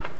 let's go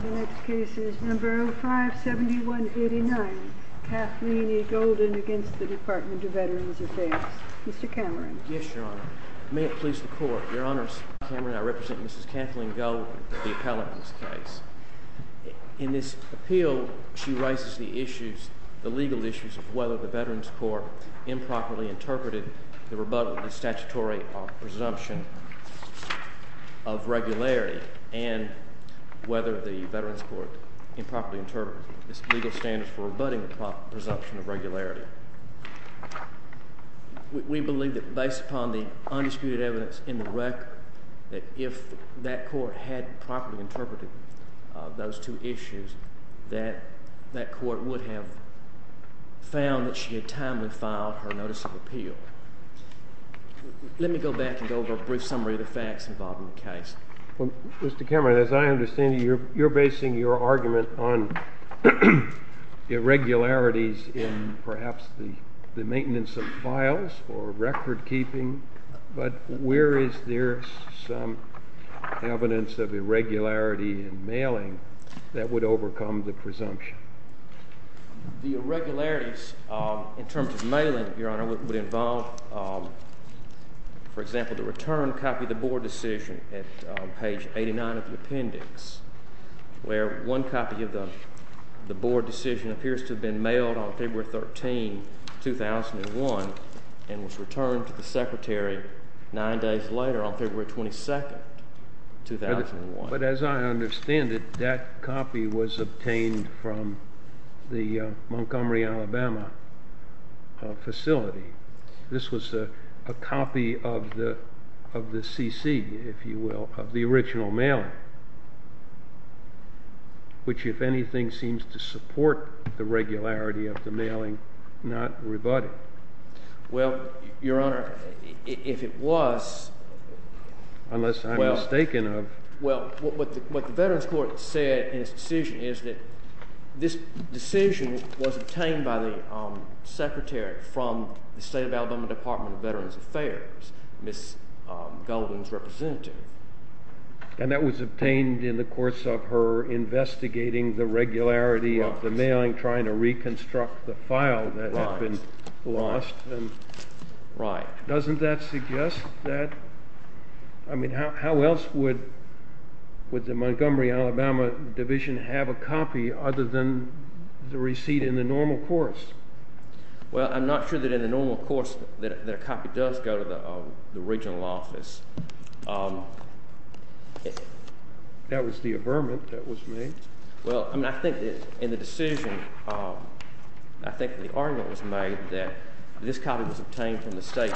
The next case is number 057189, Kathleen E. Golden against the Department of Veterans Affairs. Mr. Cameron. Yes, your honor. May it please the court. Your honors, I represent Mrs. Kathleen Golden, the appellant in this case. In this appeal, she raises the issues, the legal issues of whether the Veterans Court improperly interpreted the rebuttal of the statutory presumption of regularity, and whether the Veterans Court improperly interpreted the legal standards for rebutting the presumption of regularity. We believe that based upon the undisputed evidence in the record, that if that court had properly interpreted those two issues, that that court would have found that she had timely filed her notice of appeal. Let me go back and go over a brief summary of the facts involved in the case. Mr. Cameron, as I understand it, you're basing your argument on irregularities in perhaps the maintenance of files or record keeping, but where is there some evidence of irregularity in mailing that would overcome the presumption? The irregularities in terms of mailing, your honor, would involve, for example, the return copy of the board decision at page 89 of the appendix, where one copy of the board decision appears to have been mailed on February 13, 2001, and was returned to the secretary nine days later on February 22, 2001. But as I understand it, that copy was obtained from the Montgomery, Alabama facility. This was a copy of the CC, if you will, of the original mailing, which, if anything, seems to support the regularity of the mailing, not rebutting. Well, your honor, if it was. Unless I'm mistaken of. Well, what the Veterans Court said in its decision is that this decision was obtained by the secretary from the state of Alabama Department of Veterans Affairs, Ms. Golden's representative. And that was obtained in the course of her investigating the regularity of the mailing, trying to reconstruct the file that had been lost. Right. Doesn't that suggest that? I mean, how else would the Montgomery, Alabama division have a copy other than the receipt in the normal course? Well, I'm not sure that in the normal course that a copy does go to the regional office. That was the averment that was made? Well, I mean, I think that in the decision, I think the argument was made that this copy was obtained from the state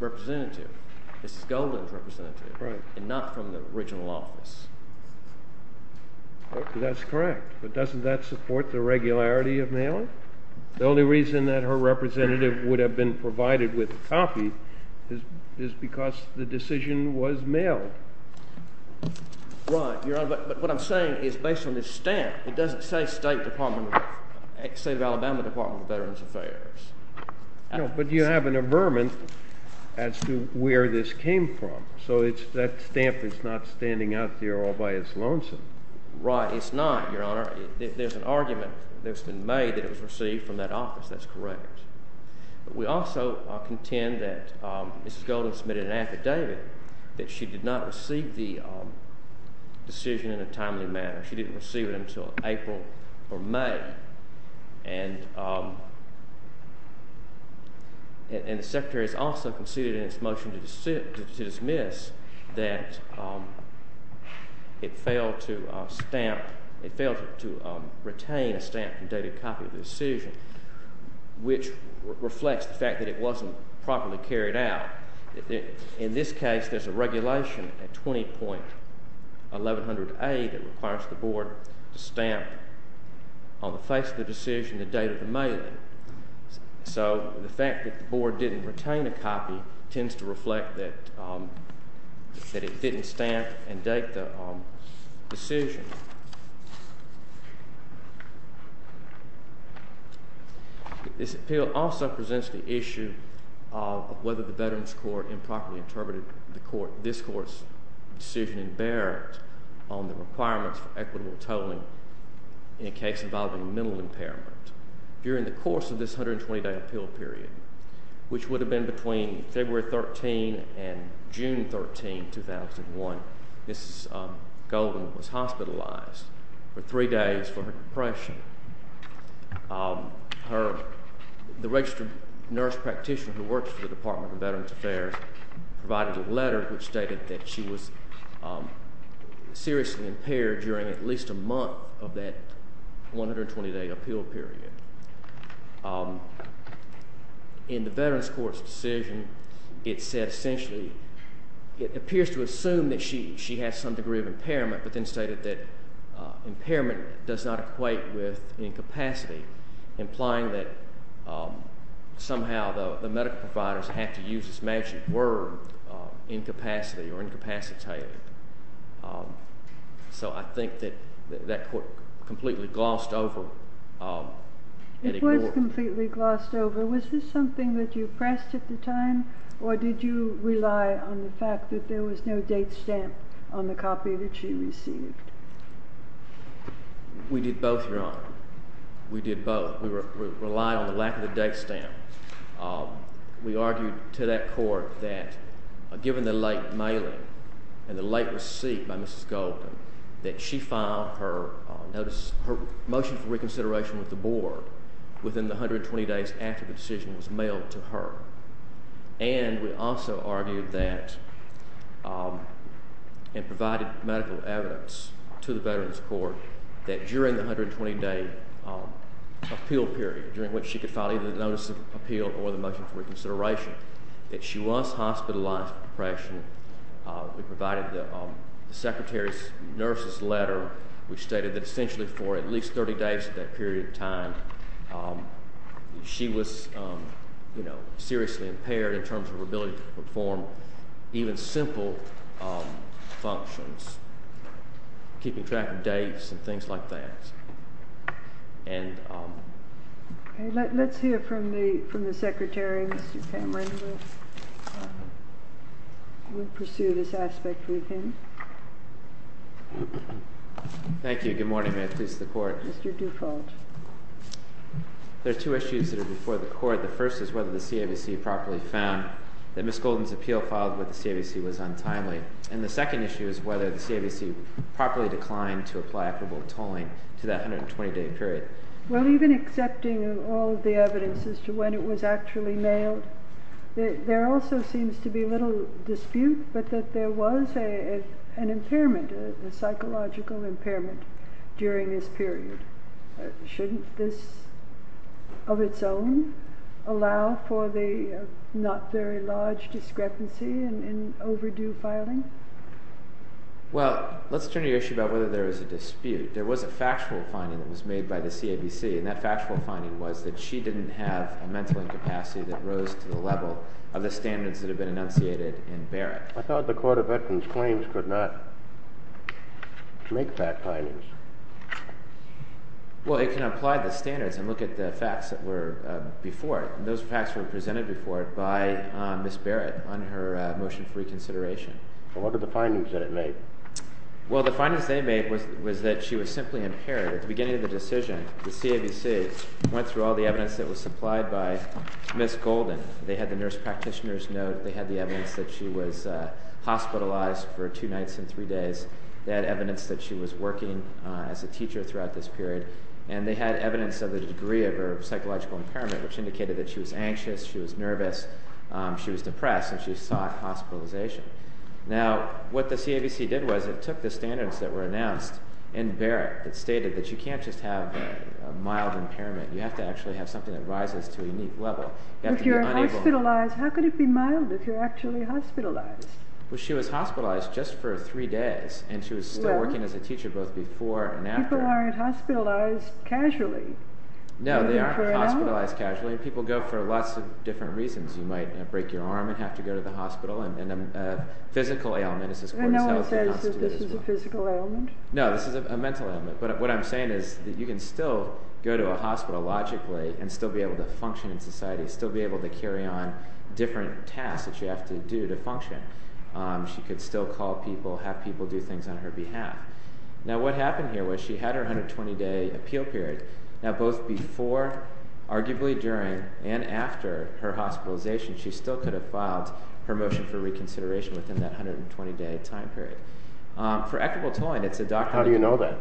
representative, Ms. Golden's representative, and not from the regional office. That's correct. But doesn't that support the regularity of mailing? The only reason that her representative would have been provided with a copy is because the decision was mailed. Right. But what I'm saying is based on this stamp, it doesn't say state of Alabama Department of Veterans Affairs. No, but you have an averment as to where this came from. So that stamp is not standing out there all by its lonesome. Right. It's not, your honor. There's an argument that's been made that it was received from that office. That's correct. We also contend that Mrs. Golden submitted an affidavit that she did not receive the decision in a timely manner. She didn't receive it until April or May. And the secretary has also conceded in its motion to dismiss that it failed to retain a stamped and dated copy of the decision, which reflects the fact that it wasn't properly carried out. In this case, there's a regulation at 20.1100A that requires the board to stamp on the face of the decision the date of the mailing. So the fact that the board didn't retain a copy tends to reflect that it didn't stamp and date the decision. This appeal also presents the issue of whether the Veterans Court improperly interpreted this court's decision in Barrett on the requirements for equitable tolling in a case involving mental impairment. During the course of this 120-day appeal period, which would have been between February 13 and June 13, 2001, Mrs. Golden was hospitalized for three days for her depression. The registered nurse practitioner who works for the Department of Veterans Affairs provided a letter which stated that she was seriously impaired during at least a month of that 120-day appeal period. In the Veterans Court's decision, it said essentially, it appears to assume that she has some degree of impairment, but then stated that impairment does not equate with incapacity, implying that somehow the medical providers have to use this magic word incapacity or incapacitated. So I think that that court completely glossed over. It was completely glossed over. Was this something that you pressed at the time, or did you rely on the fact that there was no date stamp on the copy that she received? We did both, Your Honor. We did both. We relied on the lack of the date stamp. We argued to that court that given the late mailing and the late receipt by Mrs. Golden, that she filed her motion for reconsideration with the board within the 120 days after the decision was mailed to her. And we also argued that and provided medical evidence to the Veterans Court that during the 120-day appeal period, during which she could file either the notice of appeal or the motion for reconsideration, that she was hospitalized for depression. We provided the secretary's nurse's letter, which stated that essentially for at least 30 days of that period of time, she was seriously impaired in terms of her ability to perform even simple functions, keeping track of dates and things like that. Let's hear from the secretary, Mr. Cameron. We'll pursue this aspect with him. Thank you. Good morning, Mayor. Please, the court. Mr. Dufault. There are two issues that are before the court. The first is whether the CAVC properly found that Mrs. Golden's appeal filed with the CAVC was untimely. And the second issue is whether the CAVC properly declined to apply equitable tolling to that 120-day period. Well, even accepting all of the evidence as to when it was actually mailed, there also seems to be little dispute, but that there was an impairment, a psychological impairment during this period. Shouldn't this, of its own, allow for the not very large discrepancy in overdue filing? Well, let's turn to your issue about whether there is a dispute. There was a factual finding that was made by the CAVC, and that factual finding was that she didn't have a mental incapacity that rose to the level of the standards that had been enunciated in Barrett. I thought the Court of Veterans Claims could not make that finding. Well, it can apply the standards and look at the facts that were before it. Those facts were presented before it by Ms. Barrett on her motion for reconsideration. What were the findings that it made? Well, the findings they made was that she was simply impaired. At the beginning of the decision, the CAVC went through all the evidence that was supplied by Ms. Golden. They had the nurse practitioner's note. They had the evidence that she was hospitalized for two nights and three days. They had evidence that she was working as a teacher throughout this period, and they had evidence of the degree of her psychological impairment, which indicated that she was anxious, she was nervous, she was depressed, and she sought hospitalization. Now, what the CAVC did was it took the standards that were announced in Barrett. It stated that you can't just have mild impairment. You have to actually have something that rises to a unique level. If you're hospitalized, how could it be mild if you're actually hospitalized? Well, she was hospitalized just for three days, and she was still working as a teacher both before and after. People aren't hospitalized casually. No, they aren't hospitalized casually. People go for lots of different reasons. You might break your arm and have to go to the hospital, and a physical ailment is as close to a hospital as well. No one says that this is a physical ailment? No, this is a mental ailment, but what I'm saying is that you can still go to a hospital logically and still be able to function in society, still be able to carry on different tasks that you have to do to function. She could still call people, have people do things on her behalf. Now, what happened here was she had her 120-day appeal period. Now, both before, arguably during, and after her hospitalization, she still could have filed her motion for reconsideration within that 120-day time period. For equitable tolling, it's a doctrine. How do you know that?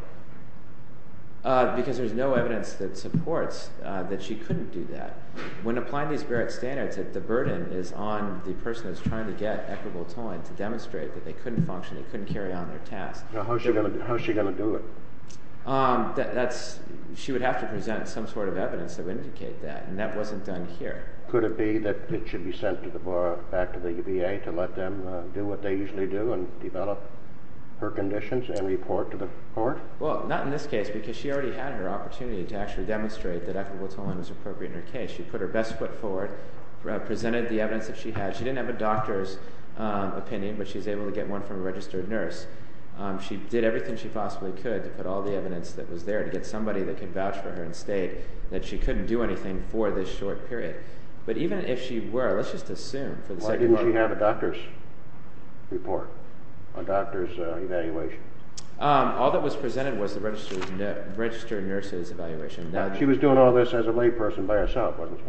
Because there's no evidence that supports that she couldn't do that. When applying these Barrett standards, the burden is on the person that's trying to get equitable tolling to demonstrate that they couldn't function, they couldn't carry on their tasks. How is she going to do it? She would have to present some sort of evidence to indicate that, and that wasn't done here. Could it be that it should be sent back to the VA to let them do what they usually do and develop her conditions and report to the court? Well, not in this case, because she already had her opportunity to actually demonstrate that equitable tolling was appropriate in her case. She put her best foot forward, presented the evidence that she had. She didn't have a doctor's opinion, but she was able to get one from a registered nurse. She did everything she possibly could to put all the evidence that was there to get somebody that could vouch for her and state that she couldn't do anything for this short period. But even if she were, let's just assume for the sake of argument... Why didn't she have a doctor's report, a doctor's evaluation? All that was presented was the registered nurse's evaluation. She was doing all this as a layperson by herself, wasn't she?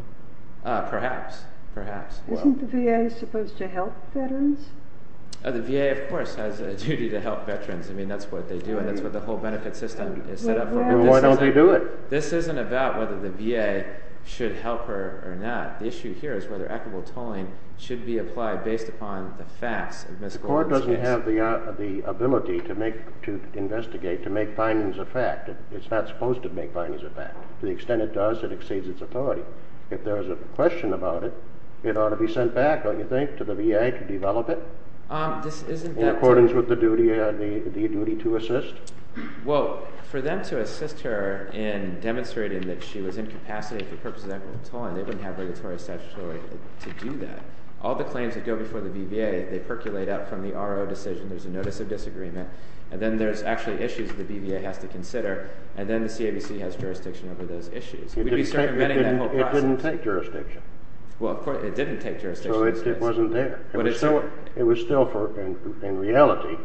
Perhaps, perhaps. Isn't the VA supposed to help veterans? The VA, of course, has a duty to help veterans. I mean, that's what they do, and that's what the whole benefit system is set up for. Then why don't they do it? This isn't about whether the VA should help her or not. The issue here is whether equitable tolling should be applied based upon the facts of Ms. Gordon's case. The court doesn't have the ability to investigate, to make findings of fact. It's not supposed to make findings of fact. To the extent it does, it exceeds its authority. If there is a question about it, it ought to be sent back, don't you think, to the VA to develop it? In accordance with the duty to assist? Well, for them to assist her in demonstrating that she was incapacitated for purposes of equitable tolling, they wouldn't have regulatory statutory authority to do that. All the claims that go before the BVA, they percolate out from the RO decision. There's a notice of disagreement, and then there's actually issues the BVA has to consider, and then the CABC has jurisdiction over those issues. We'd be circumventing that whole process. It didn't take jurisdiction. Well, of course, it didn't take jurisdiction. So it wasn't there. It was still, in reality, in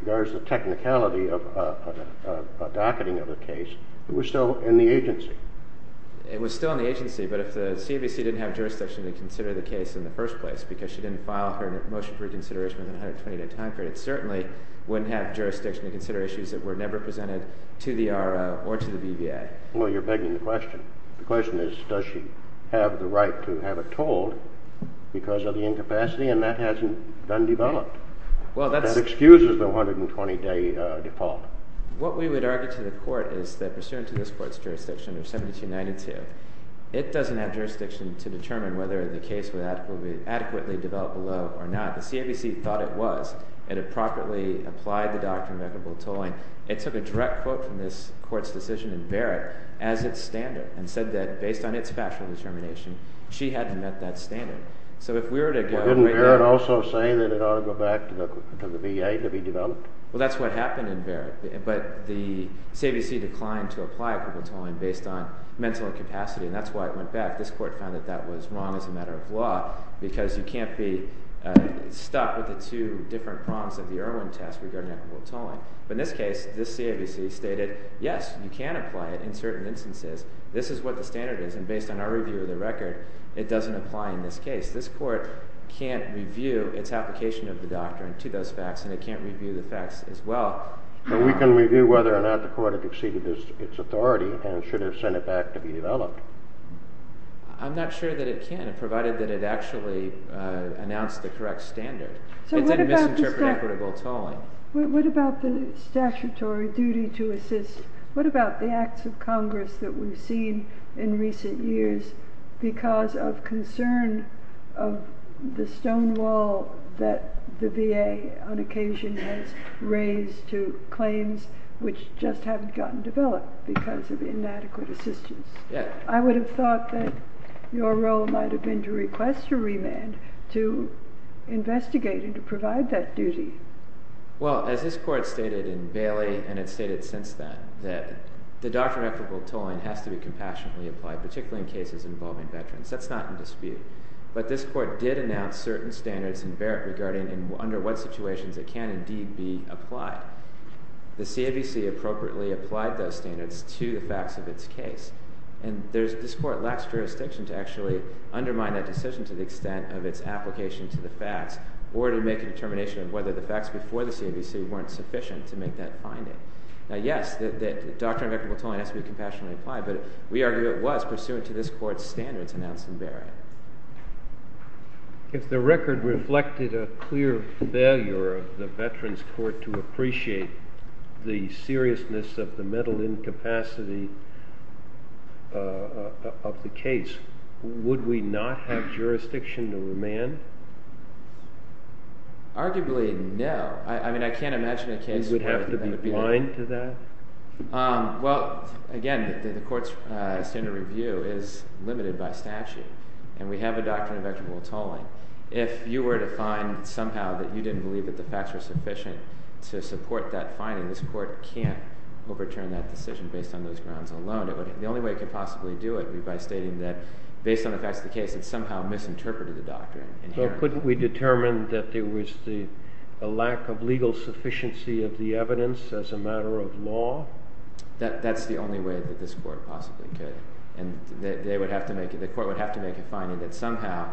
regards to technicality of a docketing of a case, it was still in the agency. It was still in the agency, but if the CABC didn't have jurisdiction to consider the case in the first place because she didn't file her motion for reconsideration in a 120-day time period, it certainly wouldn't have jurisdiction to consider issues that were never presented to the RO or to the BVA. Well, you're begging the question. The question is, does she have the right to have it told because of the incapacity, and that hasn't been developed. That excuses the 120-day default. What we would argue to the court is that pursuant to this court's jurisdiction of 7292, it doesn't have jurisdiction to determine whether the case will be adequately developed below or not. The CABC thought it was. It had properly applied the doctrine of equitable tolling. It took a direct quote from this court's decision in Barrett as its standard and said that based on its factual determination, she hadn't met that standard. Didn't Barrett also say that it ought to go back to the VA to be developed? Well, that's what happened in Barrett, but the CABC declined to apply equitable tolling based on mental incapacity, and that's why it went back. This court found that that was wrong as a matter of law because you can't be stuck with the two different prongs of the Irwin test regarding equitable tolling. But in this case, this CABC stated, yes, you can apply it in certain instances. This is what the standard is, and based on our review of the record, it doesn't apply in this case. This court can't review its application of the doctrine to those facts, and it can't review the facts as well. But we can review whether or not the court had exceeded its authority and should have sent it back to be developed. I'm not sure that it can, provided that it actually announced the correct standard. It didn't misinterpret equitable tolling. What about the statutory duty to assist? What about the acts of Congress that we've seen in recent years because of concern of the stone wall that the VA on occasion has raised to claims which just haven't gotten developed because of inadequate assistance? I would have thought that your role might have been to request a remand, to investigate and to provide that duty. Well, as this court stated in Bailey, and it's stated since then, that the doctrine of equitable tolling has to be compassionately applied, particularly in cases involving veterans. That's not in dispute. But this court did announce certain standards in Barrett regarding under what situations it can indeed be applied. The CABC appropriately applied those standards to the facts of its case, and this court lacks jurisdiction to actually undermine that decision to the extent of its application to the facts, or to make a determination of whether the facts before the CABC weren't sufficient to make that finding. Now, yes, the doctrine of equitable tolling has to be compassionately applied, but we argue it was pursuant to this court's standards announced in Barrett. If the record reflected a clear failure of the Veterans Court to appreciate the seriousness of the mental incapacity of the case, would we not have jurisdiction to remand? Arguably, no. I mean, I can't imagine a case where that would be the case. You would have to be blind to that? Well, again, the court's standard review is limited by statute, and we have a doctrine of equitable tolling. If you were to find somehow that you didn't believe that the facts were sufficient to support that finding, this court can't overturn that decision based on those grounds alone. The only way it could possibly do it would be by stating that, based on the facts of the case, it somehow misinterpreted the doctrine. So couldn't we determine that there was a lack of legal sufficiency of the evidence as a matter of law? That's the only way that this court possibly could. And the court would have to make a finding that somehow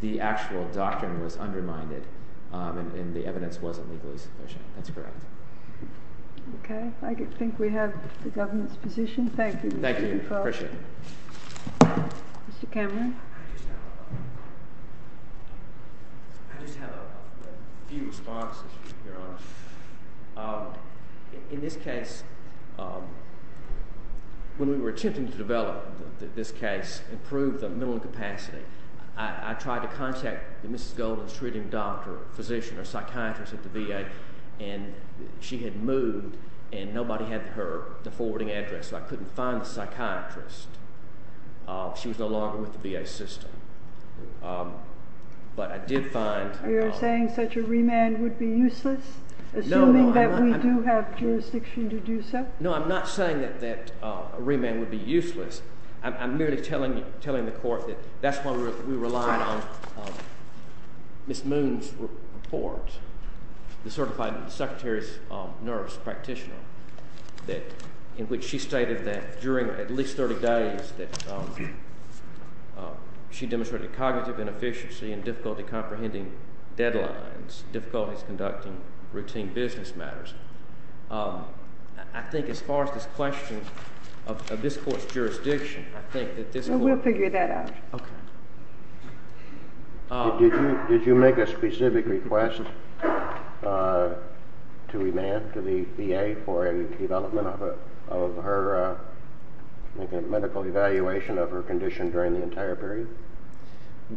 the actual doctrine was undermined and the evidence wasn't legally sufficient. That's correct. Okay. I think we have the government's position. Thank you. Thank you. I appreciate it. Mr. Cameron? I just have a few responses, Your Honor. In this case, when we were attempting to develop this case, improve the mental capacity, I tried to contact Mrs. Golden's treating doctor, physician, or psychiatrist at the VA, and she had moved and nobody had her forwarding address, so I couldn't find the psychiatrist. She was no longer with the VA system. But I did find— You're saying such a remand would be useless, assuming that we do have jurisdiction to do so? I'm merely telling the court that that's why we relied on Ms. Moon's report, the certified secretary's nurse practitioner, in which she stated that during at least 30 days that she demonstrated cognitive inefficiency and difficulty comprehending deadlines, difficulties conducting routine business matters. I think as far as this question of this court's jurisdiction, I think that this court— We'll figure that out. Okay. Did you make a specific request to remand to the VA for any development of her medical evaluation of her condition during the entire period?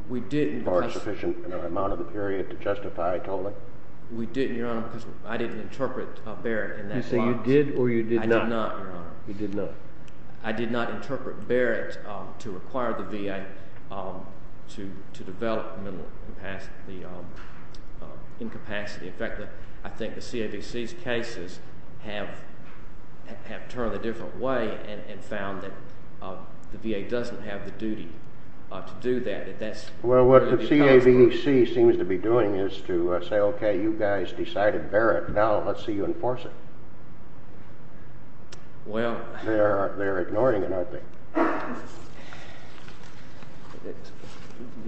We didn't. Or a sufficient amount of the period to justify tolling? We didn't, Your Honor, because I didn't interpret Barrett in that box. You say you did or you did not? I did not, Your Honor. You did not? I did not interpret Barrett to require the VA to develop mental incapacity. In fact, I think the CAVC's cases have turned a different way and found that the VA doesn't have the duty to do that. Well, what the CAVC seems to be doing is to say, okay, you guys decided Barrett, now let's see you enforce it. Well— They're ignoring it, aren't they?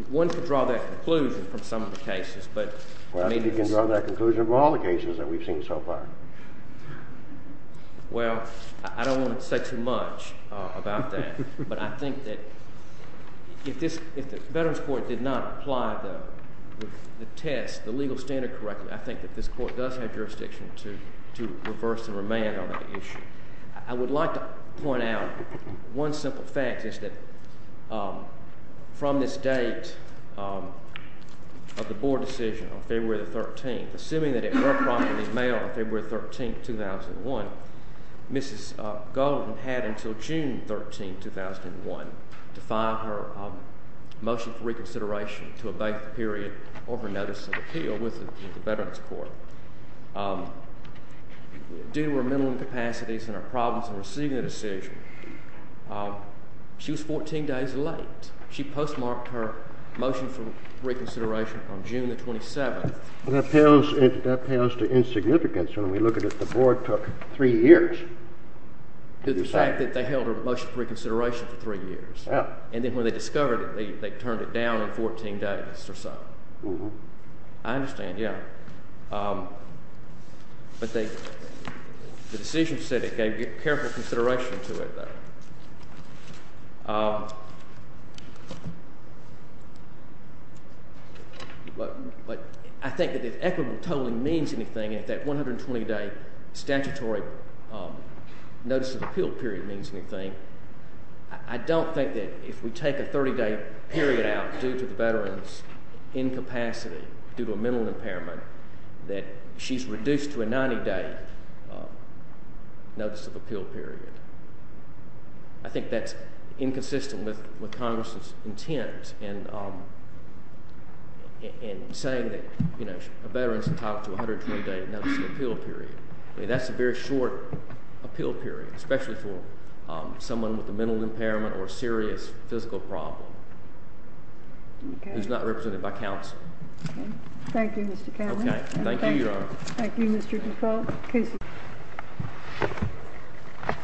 One could draw that conclusion from some of the cases, but— Well, I think you can draw that conclusion from all the cases that we've seen so far. Well, I don't want to say too much about that, but I think that if the Veterans Court did not apply the test, the legal standard correctly, I think that this Court does have jurisdiction to reverse the remand on that issue. I would like to point out one simple fact, which is that from this date of the Board decision on February 13th, assuming that it were properly mailed on February 13th, 2001, Mrs. Golden had until June 13th, 2001, to file her motion for reconsideration to abate the period over notice of appeal with the Veterans Court. Due to her mental incapacities and her problems in receiving the decision, she was 14 days late. She postmarked her motion for reconsideration on June 27th. That pales to insignificance when we look at it. The Board took three years. The fact that they held her motion for reconsideration for three years, and then when they discovered it, they turned it down in 14 days or so. I understand, yeah. But the decision said it gave careful consideration to it, though. I think that if equitable tolling means anything, if that 120-day statutory notice of appeal period means anything, I don't think that if we take a 30-day period out due to the Veteran's incapacity due to a mental impairment that she's reduced to a 90-day notice of appeal period. I think that's inconsistent with Congress's intent in saying that a Veteran's entitled to a 120-day notice of appeal period. That's a very short appeal period, especially for someone with a mental impairment or a serious physical problem who's not represented by counsel. Thank you, Mr. Cowley. Thank you, Your Honor. Thank you, Mr. Defoe.